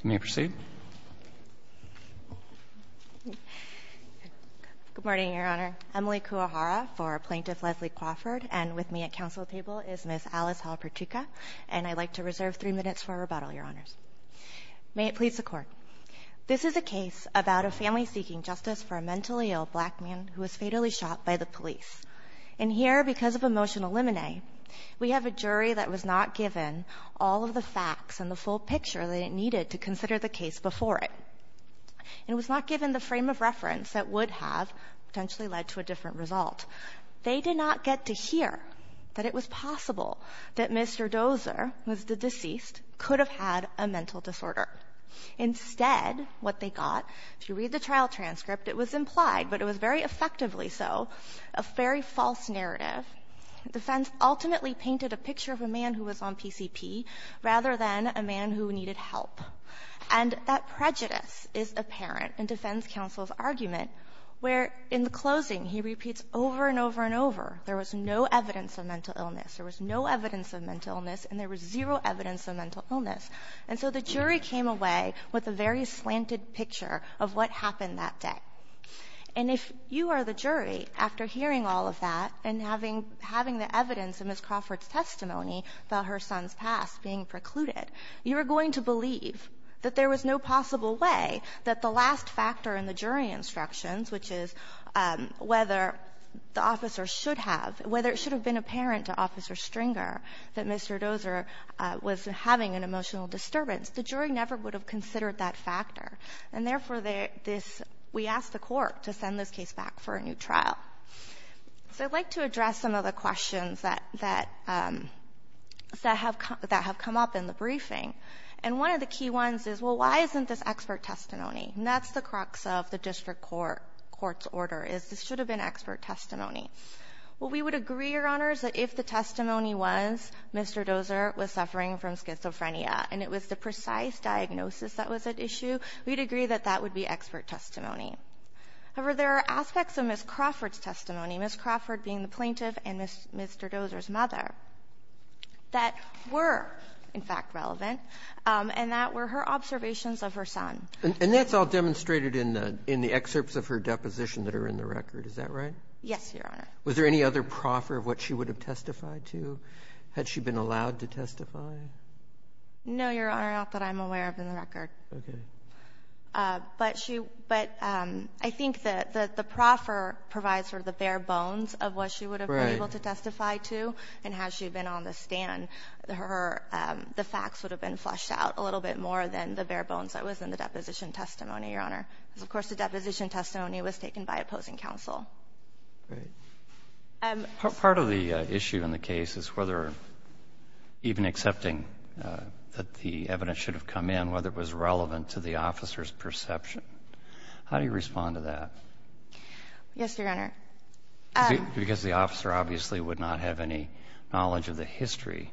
Can you proceed? Good morning, Your Honor. Emily Kuwahara for Plaintiff Leslie Crawford. And with me at council table is Ms. Alice Halpertuka. And I'd like to reserve three minutes for a rebuttal, Your Honors. May it please the Court. This is a case about a family seeking justice for a mentally ill black man who was fatally shot by the police. And here, because of emotional limine, we have a jury that was not given all of the facts and the full picture that it needed to consider the case before it. And it was not given the frame of reference that would have potentially led to a different result. They did not get to hear that it was possible that Mr. Dozer, who was the deceased, could have had a mental disorder. Instead, what they got, if you read the trial transcript, it was implied, but it was very effectively so, a very false narrative. The defense ultimately painted a picture of a man who was on PCP rather than a man who needed help. And that prejudice is apparent in defense counsel's argument where, in the closing, he repeats over and over and over, there was no evidence of mental illness, there was no evidence of mental illness, and there was zero evidence of mental illness. And so the jury came away with a very slanted picture of what happened that day. And if you are the jury, after hearing all of that and having the evidence in Ms. Crawford's testimony about her son's past being precluded, you are going to believe that there was no possible way that the last factor in the jury instructions, which is whether the officer should have, whether it should have been apparent to Officer Stringer that Mr. Dozer was having an emotional disturbance, the jury never would have considered that factor. And therefore, we asked the court to send this case back for a new trial. So I'd like to address some of the questions that have come up in the briefing. And one of the key ones is, well, why isn't this expert testimony? And that's the crux of the district court's order, is this should have been expert testimony. Well, we would agree, Your Honors, that if the testimony was Mr. Dozer was suffering from schizophrenia and it was the precise diagnosis that was at issue, we'd agree that that would be expert testimony. However, there are aspects of Ms. Crawford's testimony, Ms. Crawford being the plaintiff and Mr. Dozer's mother, that were, in fact, relevant, and that were her observations of her son. And that's all demonstrated in the excerpts of her deposition that are in the record, is that right? Yes, Your Honor. Was there any other proffer of what she would have testified to? Had she been allowed to testify? No, Your Honor, not that I'm aware of in the record. Okay. But I think that the proffer provides for the bare bones of what she would have been able to testify to, and had she been on the stand, the facts would have been fleshed out a little bit more than the bare bones that was in the deposition testimony, Your Honor. Because, of course, the deposition testimony was taken by opposing counsel. Great. Part of the issue in the case is whether even accepting that the evidence should have come in, whether it was relevant to the officer's perception. How do you respond to that? Yes, Your Honor. Because the officer obviously would not have any knowledge of the history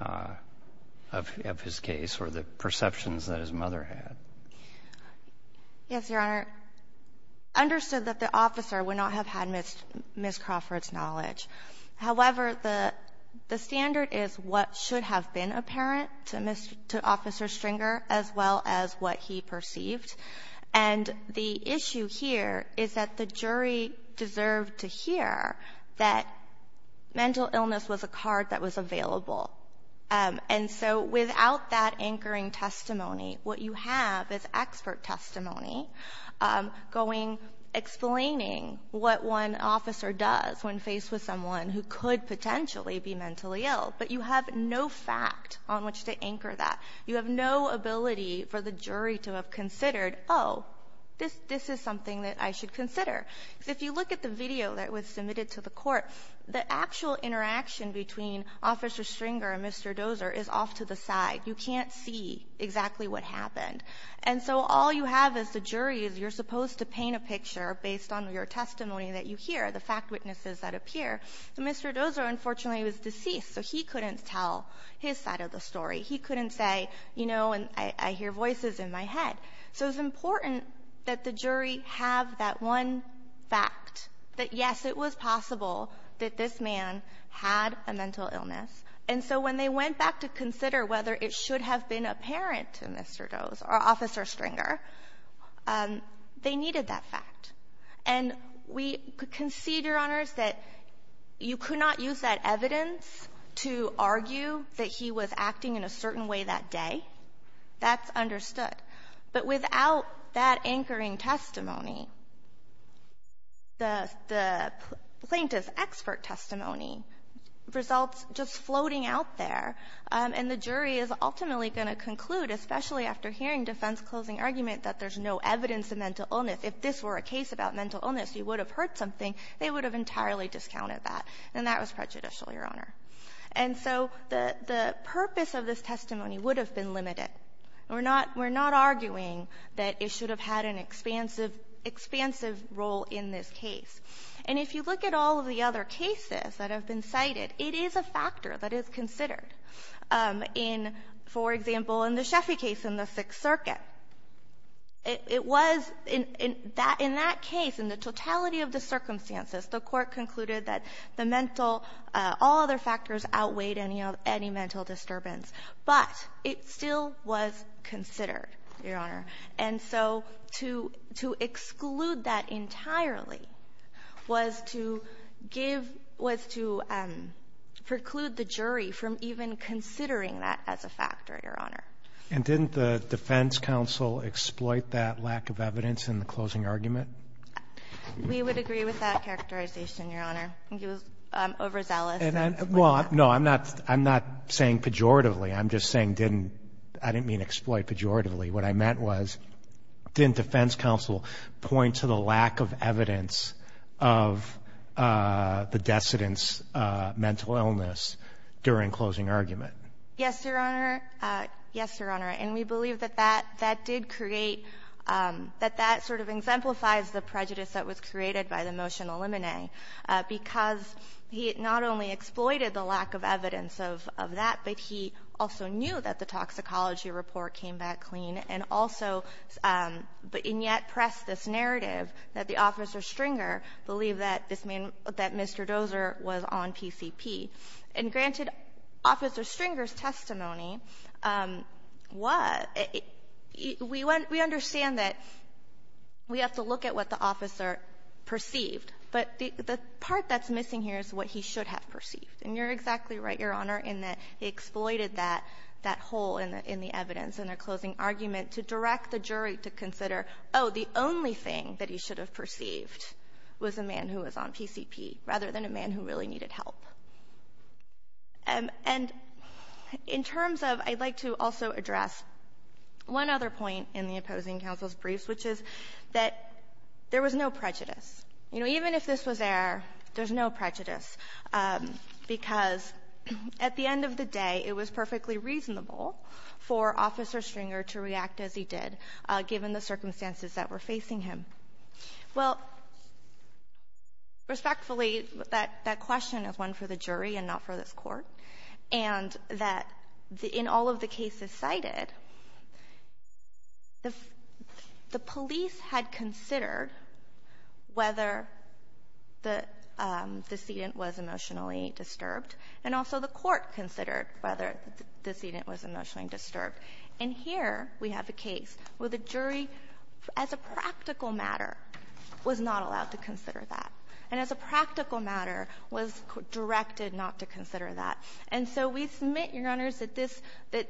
of his case or the perceptions that his mother had. Yes, Your Honor. Understood that the officer would not have had Ms. Crawford's knowledge. However, the standard is what should have been apparent to Officer Stringer as well as what he perceived. And the issue here is that the jury deserved to hear that mental illness was a card that was available. And so without that anchoring testimony, what you have is expert testimony explaining what one officer does when faced with someone who could potentially be mentally ill. But you have no fact on which to anchor that. You have no ability for the jury to have considered, oh, this is something that I should consider. If you look at the video that was submitted to the court, the actual interaction between Officer Stringer and Mr. Dozer is off to the side. You can't see exactly what happened. And so all you have as the jury is you're supposed to paint a picture based on your testimony that you hear, the fact witnesses that appear. Mr. Dozer, unfortunately, was deceased, so he couldn't tell his side of the story. He couldn't say, you know, I hear voices in my head. So it's important that the jury have that one fact that, yes, it was possible that this man had a mental illness. And so when they went back to consider whether it should have been apparent to Mr. Dozer or Officer Stringer, they needed that fact. And we concede, Your Honors, that you could not use that evidence to argue that he was acting in a certain way that day. That's understood. But without that anchoring testimony, the plaintiff's expert testimony results just floating out there. And the jury is ultimately going to conclude, especially after hearing defense closing argument, that there's no evidence of mental illness. If this were a case about mental illness, you would have heard something. They would have entirely discounted that. And that was prejudicial, Your Honor. And so the purpose of this testimony would have been limited. We're not arguing that it should have had an expansive role in this case. And if you look at all of the other cases that have been cited, it is a factor that is considered. In, for example, in the Sheffy case in the Sixth Circuit, it was in that case, in the totality of the circumstances, the court concluded that all other factors outweighed any mental disturbance. But it still was considered, Your Honor. And so to exclude that entirely was to preclude the jury from even considering that as a factor, Your Honor. And didn't the defense counsel exploit that lack of evidence in the closing argument? We would agree with that characterization, Your Honor. I think it was overzealous. Well, no, I'm not saying pejoratively. I'm just saying I didn't mean exploit pejoratively. What I meant was didn't defense counsel point to the lack of evidence of the decedent's mental illness during closing argument? Yes, Your Honor. Yes, Your Honor. And we believe that that did create, that that sort of exemplifies the prejudice that was created by the motion eliminate. Because he not only exploited the lack of evidence of that, but he also knew that the toxicology report came back clean. And also, and yet pressed this narrative that the officer Stringer believed that Mr. Dozer was on PCP. And granted Officer Stringer's testimony, we understand that we have to look at what the officer perceived. But the part that's missing here is what he should have perceived. And you're exactly right, Your Honor, in that he exploited that hole in the evidence in the closing argument to direct the jury to consider, oh, the only thing that he should have perceived was a man who was on PCP, rather than a man who really needed help. And in terms of, I'd like to also address one other point in the opposing counsel's briefs, which is that there was no prejudice. You know, even if this was there, there's no prejudice. Because at the end of the day, it was perfectly reasonable for Officer Stringer to react as he did, given the circumstances that were facing him. Well, respectfully, that question is one for the jury and not for this court. And that in all of the cases cited, the police had considered whether the decedent was emotionally disturbed, and also the court considered whether the decedent was emotionally disturbed. And here we have a case where the jury, as a practical matter, was not allowed to consider that. And as a practical matter, was directed not to consider that. And so we submit, Your Honors, that this, that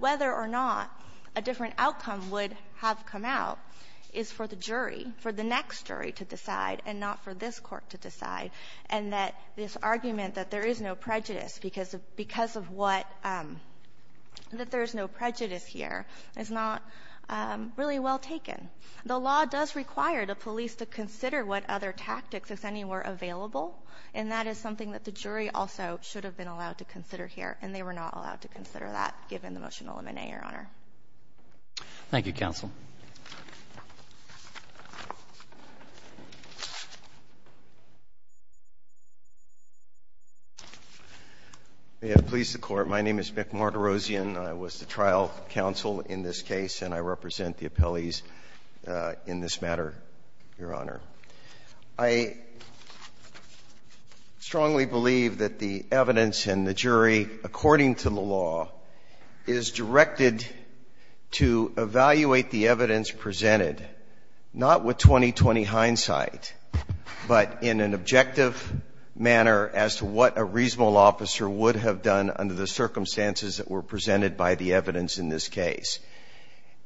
whether or not a different outcome would have come out, is for the jury, for the next jury to decide, and not for this court to decide. And that this argument that there is no prejudice because of what, that there is no prejudice here, is not really well taken. The law does require the police to consider what other tactics, if any, were available. And that is something that the jury also should have been allowed to consider here. And they were not allowed to consider that, given the motion to eliminate, Your Honor. Thank you, counsel. May it please the Court. My name is Mick Martirosian. I was the trial counsel in this case, and I represent the appellees in this matter, Your Honor. I strongly believe that the evidence in the jury, according to the law, is directed to evaluate the evidence presented, not with 20-20 hindsight, but in an objective manner as to what a reasonable officer would have done under the circumstances that were presented by the evidence in this case.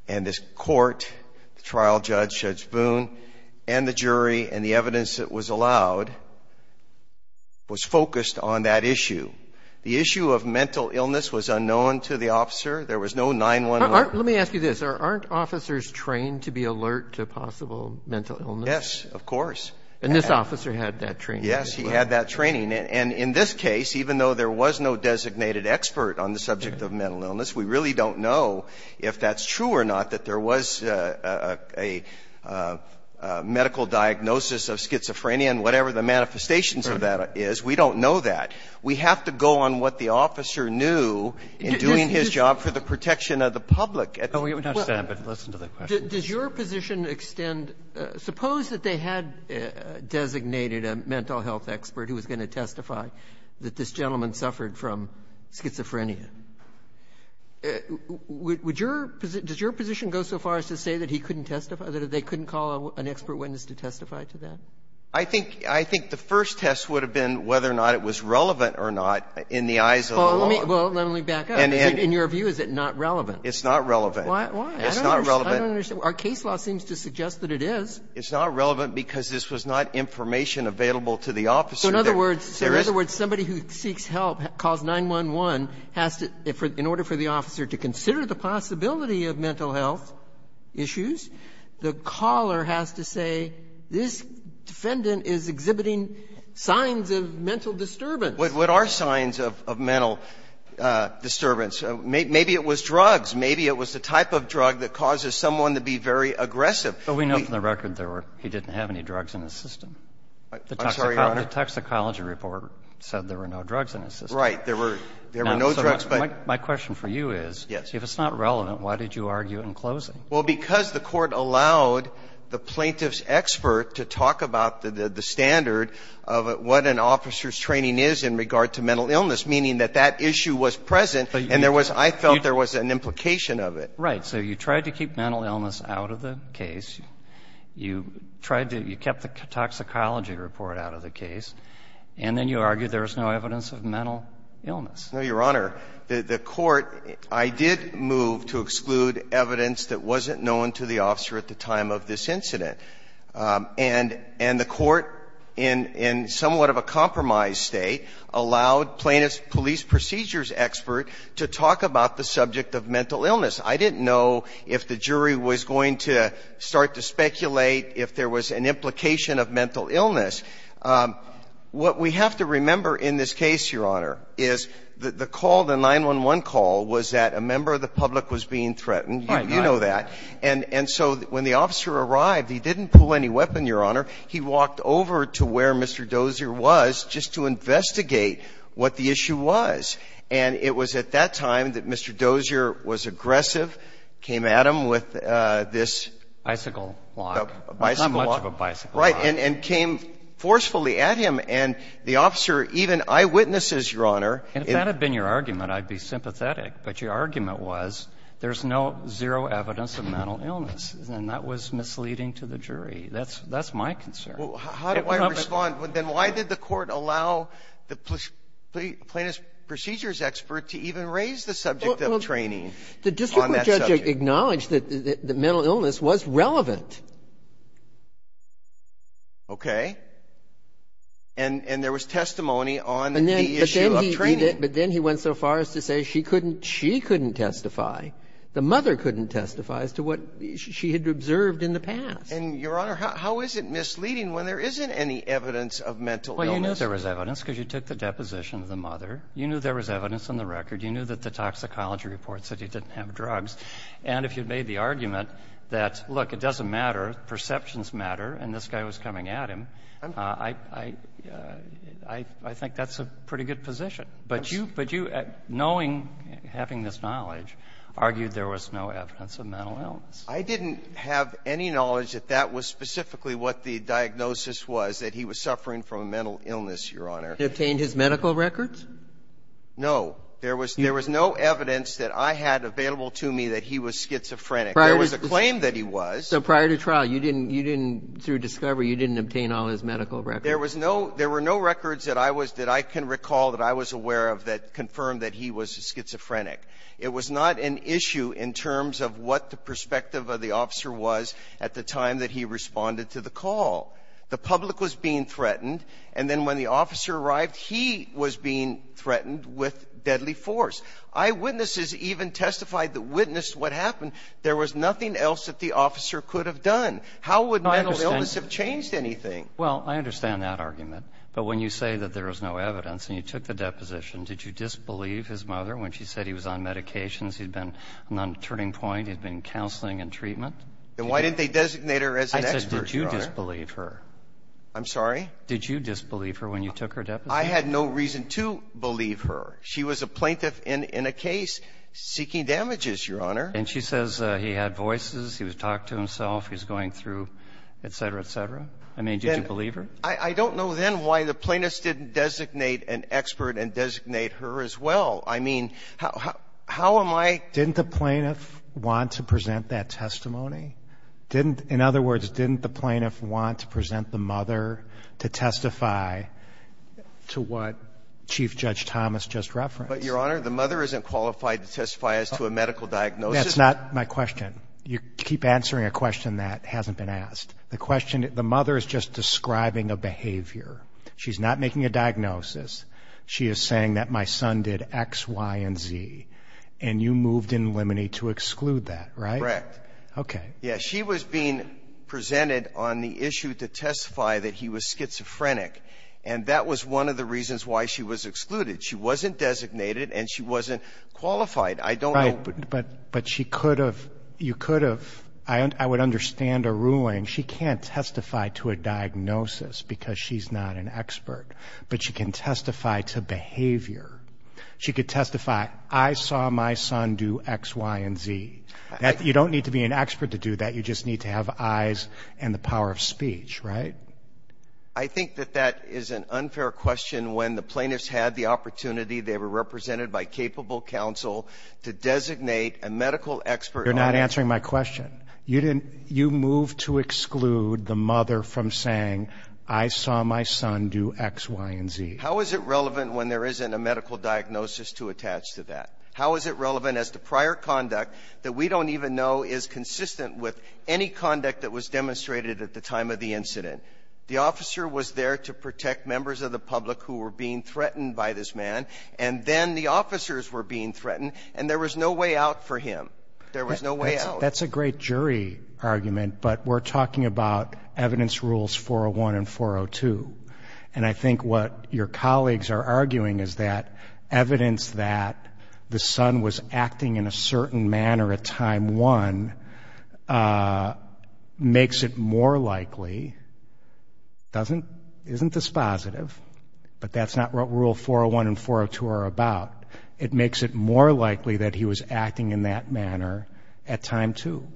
And this court, the trial judge, Judge Boone, and the jury, and the evidence that was allowed, was focused on that issue. The issue of mental illness was unknown to the officer. There was no 911. Let me ask you this. Aren't officers trained to be alert to possible mental illness? Yes, of course. And this officer had that training. Yes, he had that training. And in this case, even though there was no designated expert on the subject of mental illness, we really don't know if that's true or not, that there was a medical diagnosis of schizophrenia and whatever the manifestations of that is. We don't know that. We have to go on what the officer knew in doing his job for the protection of the public. We don't understand, but listen to the question. Does your position extend — suppose that they had designated a mental health expert who was going to testify that this gentleman suffered from schizophrenia. Would your — does your position go so far as to say that he couldn't testify, that they couldn't call an expert witness to testify to that? I think the first test would have been whether or not it was relevant or not in the eyes of the law. Well, let me back up. In your view, is it not relevant? It's not relevant. Why? I don't understand. Our case law seems to suggest that it is. It's not relevant because this was not information available to the officer. So in other words, somebody who seeks help, calls 911, has to, in order for the officer to consider the possibility of mental health issues, the caller has to say, this defendant is exhibiting signs of mental disturbance. What are signs of mental disturbance? Maybe it was drugs. Maybe it was the type of drug that causes someone to be very aggressive. But we know from the record there were — he didn't have any drugs in his system. I'm sorry, Your Honor. The toxicology report said there were no drugs in his system. Right. There were no drugs, but — My question for you is, if it's not relevant, why did you argue in closing? Well, because the Court allowed the plaintiff's expert to talk about the standard of what an officer's training is in regard to mental illness, meaning that that issue was present. And there was — I felt there was an implication of it. Right. So you tried to keep mental illness out of the case. You tried to — you kept the toxicology report out of the case. And then you argued there was no evidence of mental illness. No, Your Honor. The Court — I did move to exclude evidence that wasn't known to the officer at the time of this incident. And the Court, in somewhat of a compromised state, allowed plaintiff's police and procedures expert to talk about the subject of mental illness. I didn't know if the jury was going to start to speculate if there was an implication of mental illness. What we have to remember in this case, Your Honor, is the call, the 911 call, was that a member of the public was being threatened. You know that. And so when the officer arrived, he didn't pull any weapon, Your Honor. He walked over to where Mr. Dozier was just to investigate what the issue was. And it was at that time that Mr. Dozier was aggressive, came at him with this — Bicycle lock. Bicycle lock. Not much of a bicycle lock. Right. And came forcefully at him. And the officer even eyewitnesses, Your Honor — And if that had been your argument, I'd be sympathetic. But your argument was there's no zero evidence of mental illness. And that was misleading to the jury. That's my concern. How do I respond? Then why did the Court allow the plaintiff's procedures expert to even raise the subject of training on that subject? The district court judge acknowledged that mental illness was relevant. Okay. And there was testimony on the issue of training. But then he went so far as to say she couldn't testify, the mother couldn't testify, as to what she had observed in the past. And, Your Honor, how is it misleading when there isn't any evidence of mental illness? Well, you knew there was evidence because you took the deposition of the mother. You knew there was evidence on the record. You knew that the toxicology reports said he didn't have drugs. And if you made the argument that, look, it doesn't matter, perceptions matter, and this guy was coming at him, I think that's a pretty good position. But you, knowing, having this knowledge, argued there was no evidence of mental illness. I didn't have any knowledge that that was specifically what the diagnosis was, that he was suffering from a mental illness, Your Honor. Did he obtain his medical records? No. There was no evidence that I had available to me that he was schizophrenic. There was a claim that he was. So prior to trial, you didn't, through discovery, you didn't obtain all his medical records. There was no, there were no records that I was, that I can recall that I was aware of that confirmed that he was schizophrenic. It was not an issue in terms of what the perspective of the officer was at the time that he responded to the call. The public was being threatened, and then when the officer arrived, he was being threatened with deadly force. Eyewitnesses even testified that witnessed what happened. There was nothing else that the officer could have done. How would mental illness have changed anything? Well, I understand that argument. But when you say that there is no evidence and you took the deposition, did you disbelieve his mother when she said he was on medications, he'd been on a turning point, he'd been counseling and treatment? And why didn't they designate her as an expert, Your Honor? I said, did you disbelieve her? I'm sorry? Did you disbelieve her when you took her deposition? I had no reason to believe her. She was a plaintiff in a case seeking damages, Your Honor. And she says he had voices, he was talking to himself, he was going through, et cetera, et cetera. I mean, did you believe her? I don't know then why the plaintiffs didn't designate an expert and designate her as well. I mean, how am I — Didn't the plaintiff want to present that testimony? Didn't — in other words, didn't the plaintiff want to present the mother to testify to what Chief Judge Thomas just referenced? But, Your Honor, the mother isn't qualified to testify as to a medical diagnosis. That's not my question. You keep answering a question that hasn't been asked. The question — the mother is just describing a behavior. She's not making a diagnosis. She is saying that my son did X, Y, and Z, and you moved in limine to exclude that, right? Correct. Okay. Yeah. She was being presented on the issue to testify that he was schizophrenic, and that was one of the reasons why she was excluded. She wasn't designated and she wasn't qualified. I don't know — Right. But she could have — you could have — I would understand a ruling. She can't testify to a diagnosis because she's not an expert, but she can testify to behavior. She could testify, I saw my son do X, Y, and Z. You don't need to be an expert to do that. You just need to have eyes and the power of speech, right? I think that that is an unfair question when the plaintiff's had the opportunity. They were represented by capable counsel to designate a medical expert. You're not answering my question. You moved to exclude the mother from saying, I saw my son do X, Y, and Z. How is it relevant when there isn't a medical diagnosis to attach to that? How is it relevant as to prior conduct that we don't even know is consistent with any conduct that was demonstrated at the time of the incident? The officer was there to protect members of the public who were being threatened by this man, and then the officers were being threatened, and there was no way out for him. There was no way out. That's a great jury argument, but we're talking about evidence rules 401 and 402. And I think what your colleagues are arguing is that evidence that the son was acting in a certain manner at time one makes it more likely. It isn't dispositive, but that's not what rule 401 and 402 are about. It makes it more likely that he was acting in that manner at time two.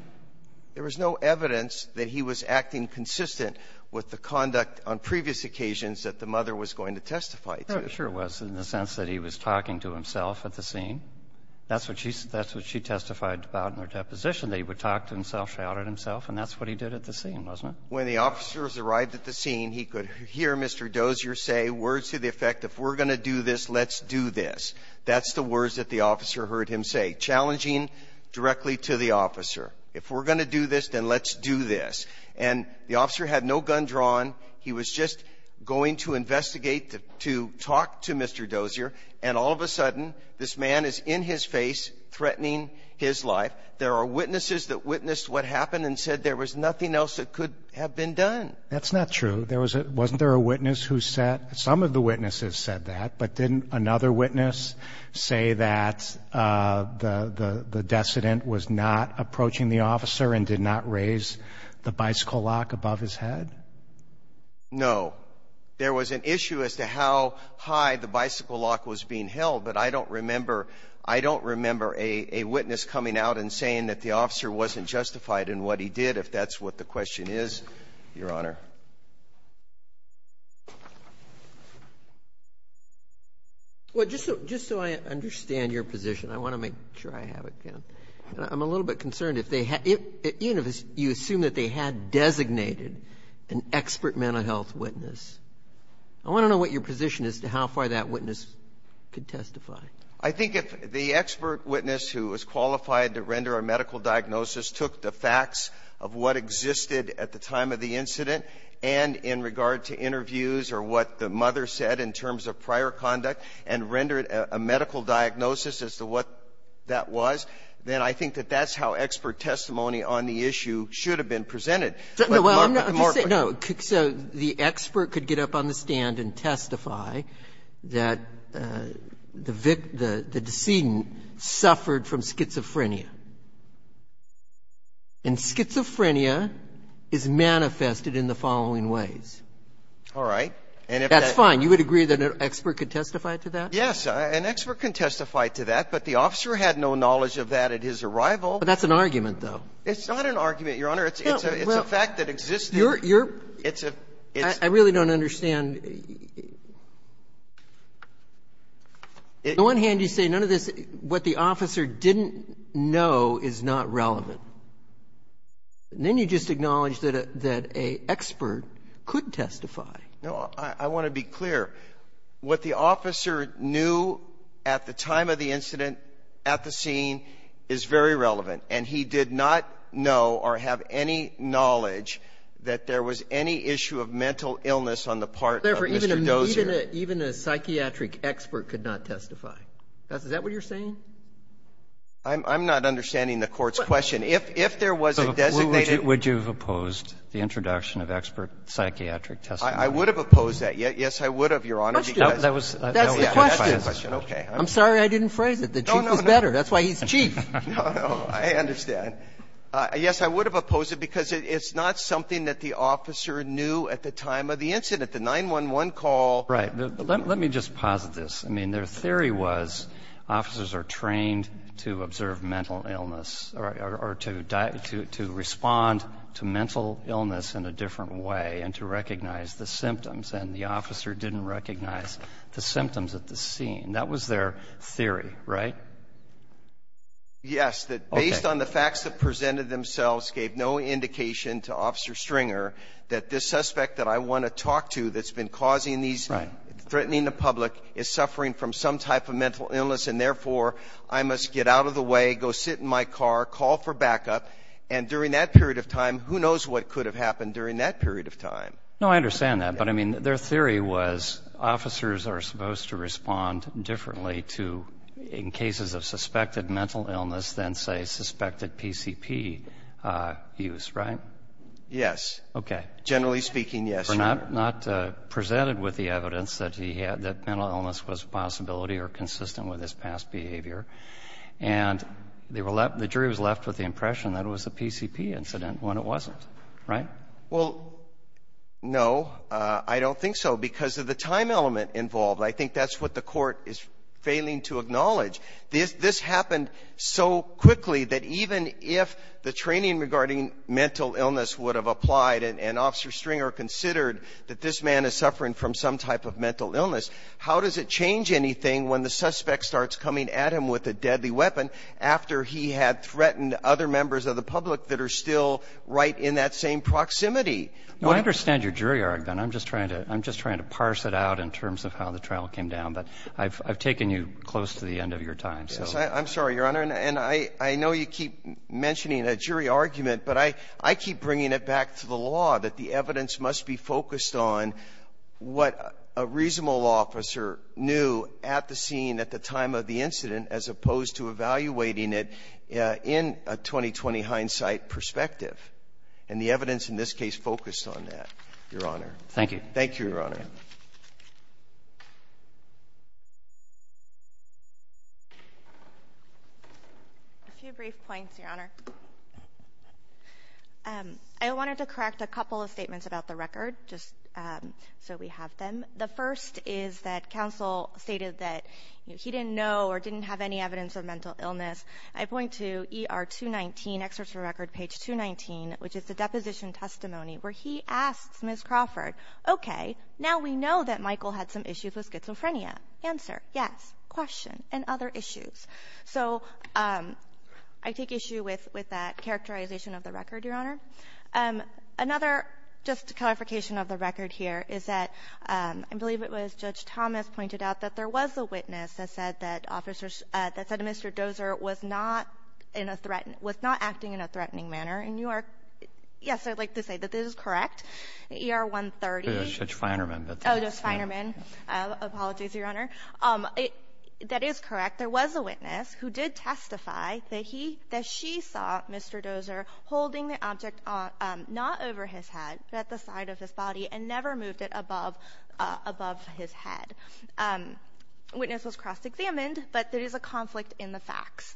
There was no evidence that he was acting consistent with the conduct on previous occasions that the mother was going to testify to. There sure was, in the sense that he was talking to himself at the scene. That's what she testified about in her deposition, that he would talk to himself, shout at himself, and that's what he did at the scene, wasn't it? When the officers arrived at the scene, he could hear Mr. Dozier say words to the effect, if we're going to do this, let's do this. That's the words that the officer heard him say, challenging directly to the officer. If we're going to do this, then let's do this. And the officer had no gun drawn. He was just going to investigate, to talk to Mr. Dozier, and all of a sudden this man is in his face threatening his life. There are witnesses that witnessed what happened and said there was nothing else that could have been done. That's not true. Wasn't there a witness who said? Some of the witnesses said that, but didn't another witness say that the decedent was not approaching the officer and did not raise the bicycle lock above his head? No. There was an issue as to how high the bicycle lock was being held, but I don't remember a witness coming out and saying that the officer wasn't justified in what he did, if that's what the question is, Your Honor. Well, just so I understand your position, I want to make sure I have it down. I'm a little bit concerned. Even if you assume that they had designated an expert mental health witness, I want to know what your position is as to how far that witness could testify. I think if the expert witness who was qualified to render a medical diagnosis took the facts of what existed at the time of the incident, and in regard to interviews or what the mother said in terms of prior conduct, and rendered a medical diagnosis as to what that was, then I think that that's how expert testimony on the issue should have been presented. Well, I'm not going to say no. So the expert could get up on the stand and testify that the victim, the decedent suffered from schizophrenia. And schizophrenia is manifested in the following ways. All right. That's fine. You would agree that an expert could testify to that? Yes. An expert can testify to that, but the officer had no knowledge of that at his arrival. But that's an argument, though. It's not an argument, Your Honor. It's a fact that existed. I really don't understand. On the one hand, you say none of this, what the officer didn't know is not relevant. And then you just acknowledge that an expert could testify. No. I want to be clear. What the officer knew at the time of the incident, at the scene, is very relevant. And he did not know or have any knowledge that there was any issue of mental illness on the part of Mr. Dozier. Therefore, even a psychiatric expert could not testify. Is that what you're saying? I'm not understanding the Court's question. If there was a designated one. Would you have opposed the introduction of expert psychiatric testimony? I would have opposed that. Yes, I would have, Your Honor. That's the question. That's the question. Okay. I'm sorry I didn't phrase it. The Chief is better. That's why he's Chief. No, no, I understand. Yes, I would have opposed it because it's not something that the officer knew at the time of the incident. The 911 call. Right. Let me just posit this. I mean, their theory was officers are trained to observe mental illness or to respond to mental illness in a different way and to recognize the symptoms. And the officer didn't recognize the symptoms at the scene. That was their theory, right? Yes, that based on the facts that presented themselves gave no indication to Officer Stringer that this suspect that I want to talk to that's been causing these, threatening the public, is suffering from some type of mental illness and, therefore, I must get out of the way, go sit in my car, call for backup. And during that period of time, who knows what could have happened during that period of time. No, I understand that. But, I mean, their theory was officers are supposed to respond differently to in cases of suspected mental illness than, say, suspected PCP use, right? Yes. Okay. Generally speaking, yes. Not presented with the evidence that he had that mental illness was a possibility or consistent with his past behavior. And the jury was left with the impression that it was a PCP incident when it wasn't, right? Well, no, I don't think so because of the time element involved. I think that's what the court is failing to acknowledge. This happened so quickly that even if the training regarding mental illness would have applied and Officer Stringer considered that this man is suffering from some type of mental illness, how does it change anything when the suspect starts coming at him with a deadly weapon after he had threatened other members of the public that are still right in that same proximity? No, I understand your jury argument. I'm just trying to parse it out in terms of how the trial came down. But I've taken you close to the end of your time. I'm sorry, Your Honor. And I know you keep mentioning a jury argument, but I keep bringing it back to the law that the evidence must be focused on what a reasonable officer knew at the scene at the time of the incident as opposed to evaluating it in a 20-20 hindsight perspective. And the evidence in this case focused on that, Your Honor. Thank you. Thank you, Your Honor. A few brief points, Your Honor. I wanted to correct a couple of statements about the record just so we have them. The first is that counsel stated that he didn't know or didn't have any evidence of mental illness. I point to ER 219, Excerpt from Record, page 219, which is the deposition testimony where he asks Ms. Crawford, okay, now we know that Michael had some issues with schizophrenia. Answer, yes. Question, and other issues. Another, just a clarification of the record here, is that I believe it was Judge Thomas pointed out that there was a witness that said that Mr. Dozer was not acting in a threatening manner. And you are, yes, I'd like to say that this is correct. ER 130. Judge Feinerman. Oh, Judge Feinerman. Apologies, Your Honor. That is correct. There was a witness who did testify that she saw Mr. Dozer holding the object not over his head, but at the side of his body and never moved it above his head. The witness was cross-examined, but there is a conflict in the facts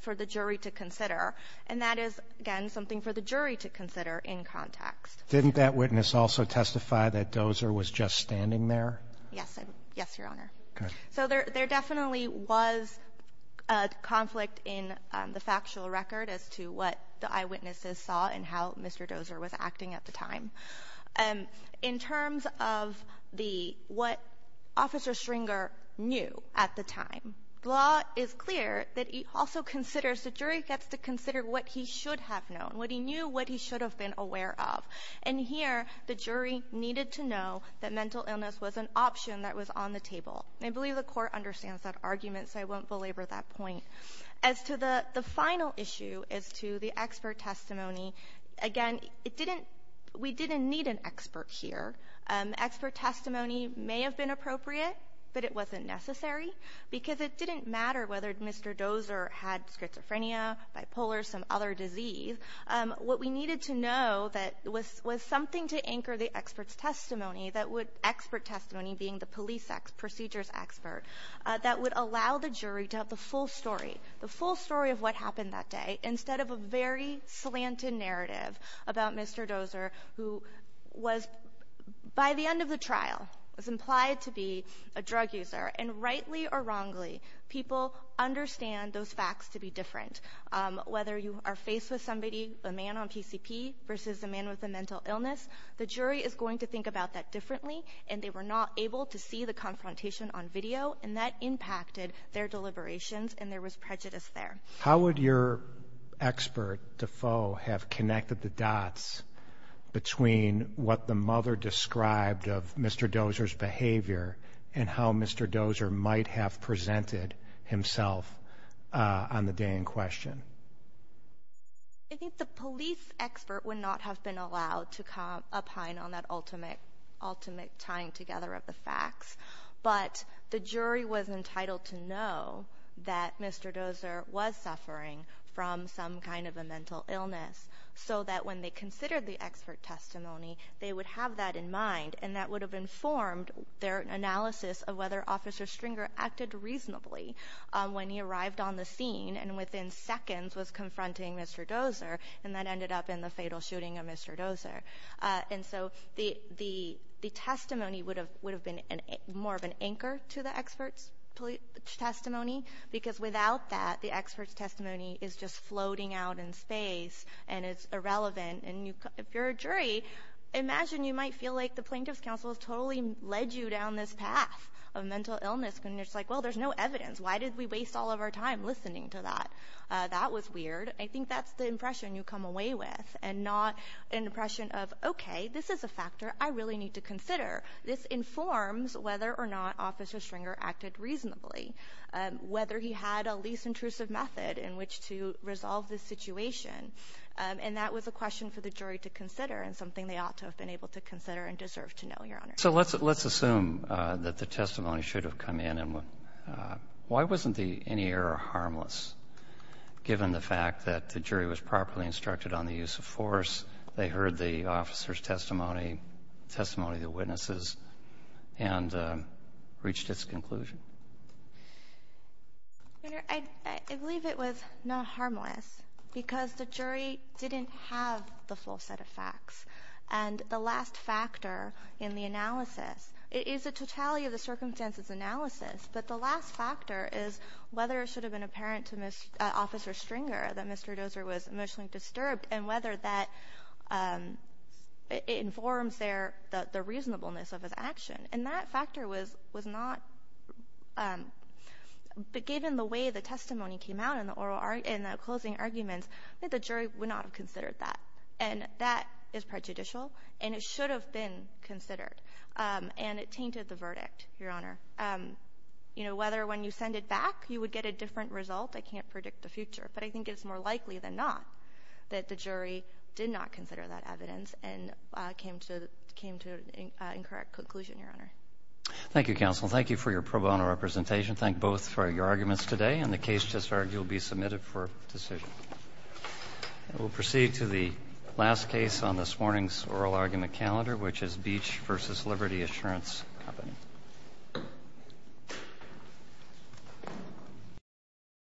for the jury to consider, and that is, again, something for the jury to consider in context. Didn't that witness also testify that Dozer was just standing there? Yes, Your Honor. Okay. So there definitely was a conflict in the factual record as to what the eyewitnesses saw and how Mr. Dozer was acting at the time. In terms of what Officer Stringer knew at the time, the law is clear that he also considers, the jury gets to consider what he should have known, what he knew, what he should have been aware of. And here, the jury needed to know that mental illness was an option that was on the table. I believe the Court understands that argument, so I won't belabor that point. As to the final issue, as to the expert testimony, again, we didn't need an expert here. Expert testimony may have been appropriate, but it wasn't necessary, because it didn't matter whether Mr. Dozer had schizophrenia, bipolar, some other disease. What we needed to know was something to anchor the expert's testimony, expert testimony being the police procedure's expert, that would allow the jury to have the full story, the full story of what happened that day, instead of a very slanted narrative about Mr. Dozer, who was, by the end of the trial, was implied to be a drug user. And rightly or wrongly, people understand those facts to be different. Whether you are faced with somebody, a man on PCP versus a man with a mental illness, the jury is going to think about that differently, and they were not able to see the confrontation on video, and that impacted their deliberations, and there was prejudice there. How would your expert, Defoe, have connected the dots between what the mother described of Mr. Dozer's behavior and how Mr. Dozer might have presented himself on the day in question? I think the police expert would not have been allowed to come up high on that ultimate tying together of the facts, but the jury was entitled to know that Mr. Dozer was suffering from some kind of a mental illness, so that when they considered the expert testimony, they would have that in mind, and that would have informed their analysis of whether Officer Stringer acted reasonably when he arrived on the scene and within seconds was confronting Mr. Dozer, and that ended up in the fatal shooting of Mr. Dozer. And so the testimony would have been more of an anchor to the expert's testimony, because without that, the expert's testimony is just floating out in space, and it's irrelevant, and if you're a jury, imagine you might feel like the Plaintiff's Counsel has totally led you down this path of mental illness, and it's like, well, there's no evidence. Why did we waste all of our time listening to that? That was weird. I think that's the impression you come away with and not an impression of, okay, this is a factor I really need to consider. This informs whether or not Officer Stringer acted reasonably, whether he had a least intrusive method in which to resolve this situation, and that was a question for the jury to consider and something they ought to have been able to consider and deserve to know, Your Honor. So let's assume that the testimony should have come in, and why wasn't any error harmless given the fact that the jury was properly instructed on the use of force, they heard the officer's testimony, the testimony of the witnesses, and reached its conclusion? Your Honor, I believe it was not harmless because the jury didn't have the full set of facts, and the last factor in the analysis, it is a totality of the circumstances analysis, but the last factor is whether it should have been apparent to Officer Stringer that Mr. Dozer was emotionally disturbed and whether that informs the reasonableness of his action, and that factor was not, but given the way the testimony came out in the closing arguments, I think the jury would not have considered that, and that is prejudicial, and it should have been considered, and it tainted the verdict, Your Honor. You know, whether when you send it back you would get a different result, I can't predict the future, but I think it's more likely than not that the jury did not consider that evidence and came to an incorrect conclusion, Your Honor. Thank you, Counsel. Thank you for your pro bono representation. Thank both for your arguments today, and the case just argued will be submitted for decision. We'll proceed to the last case on this morning's oral argument calendar, which is Beach v. Liberty Assurance Company.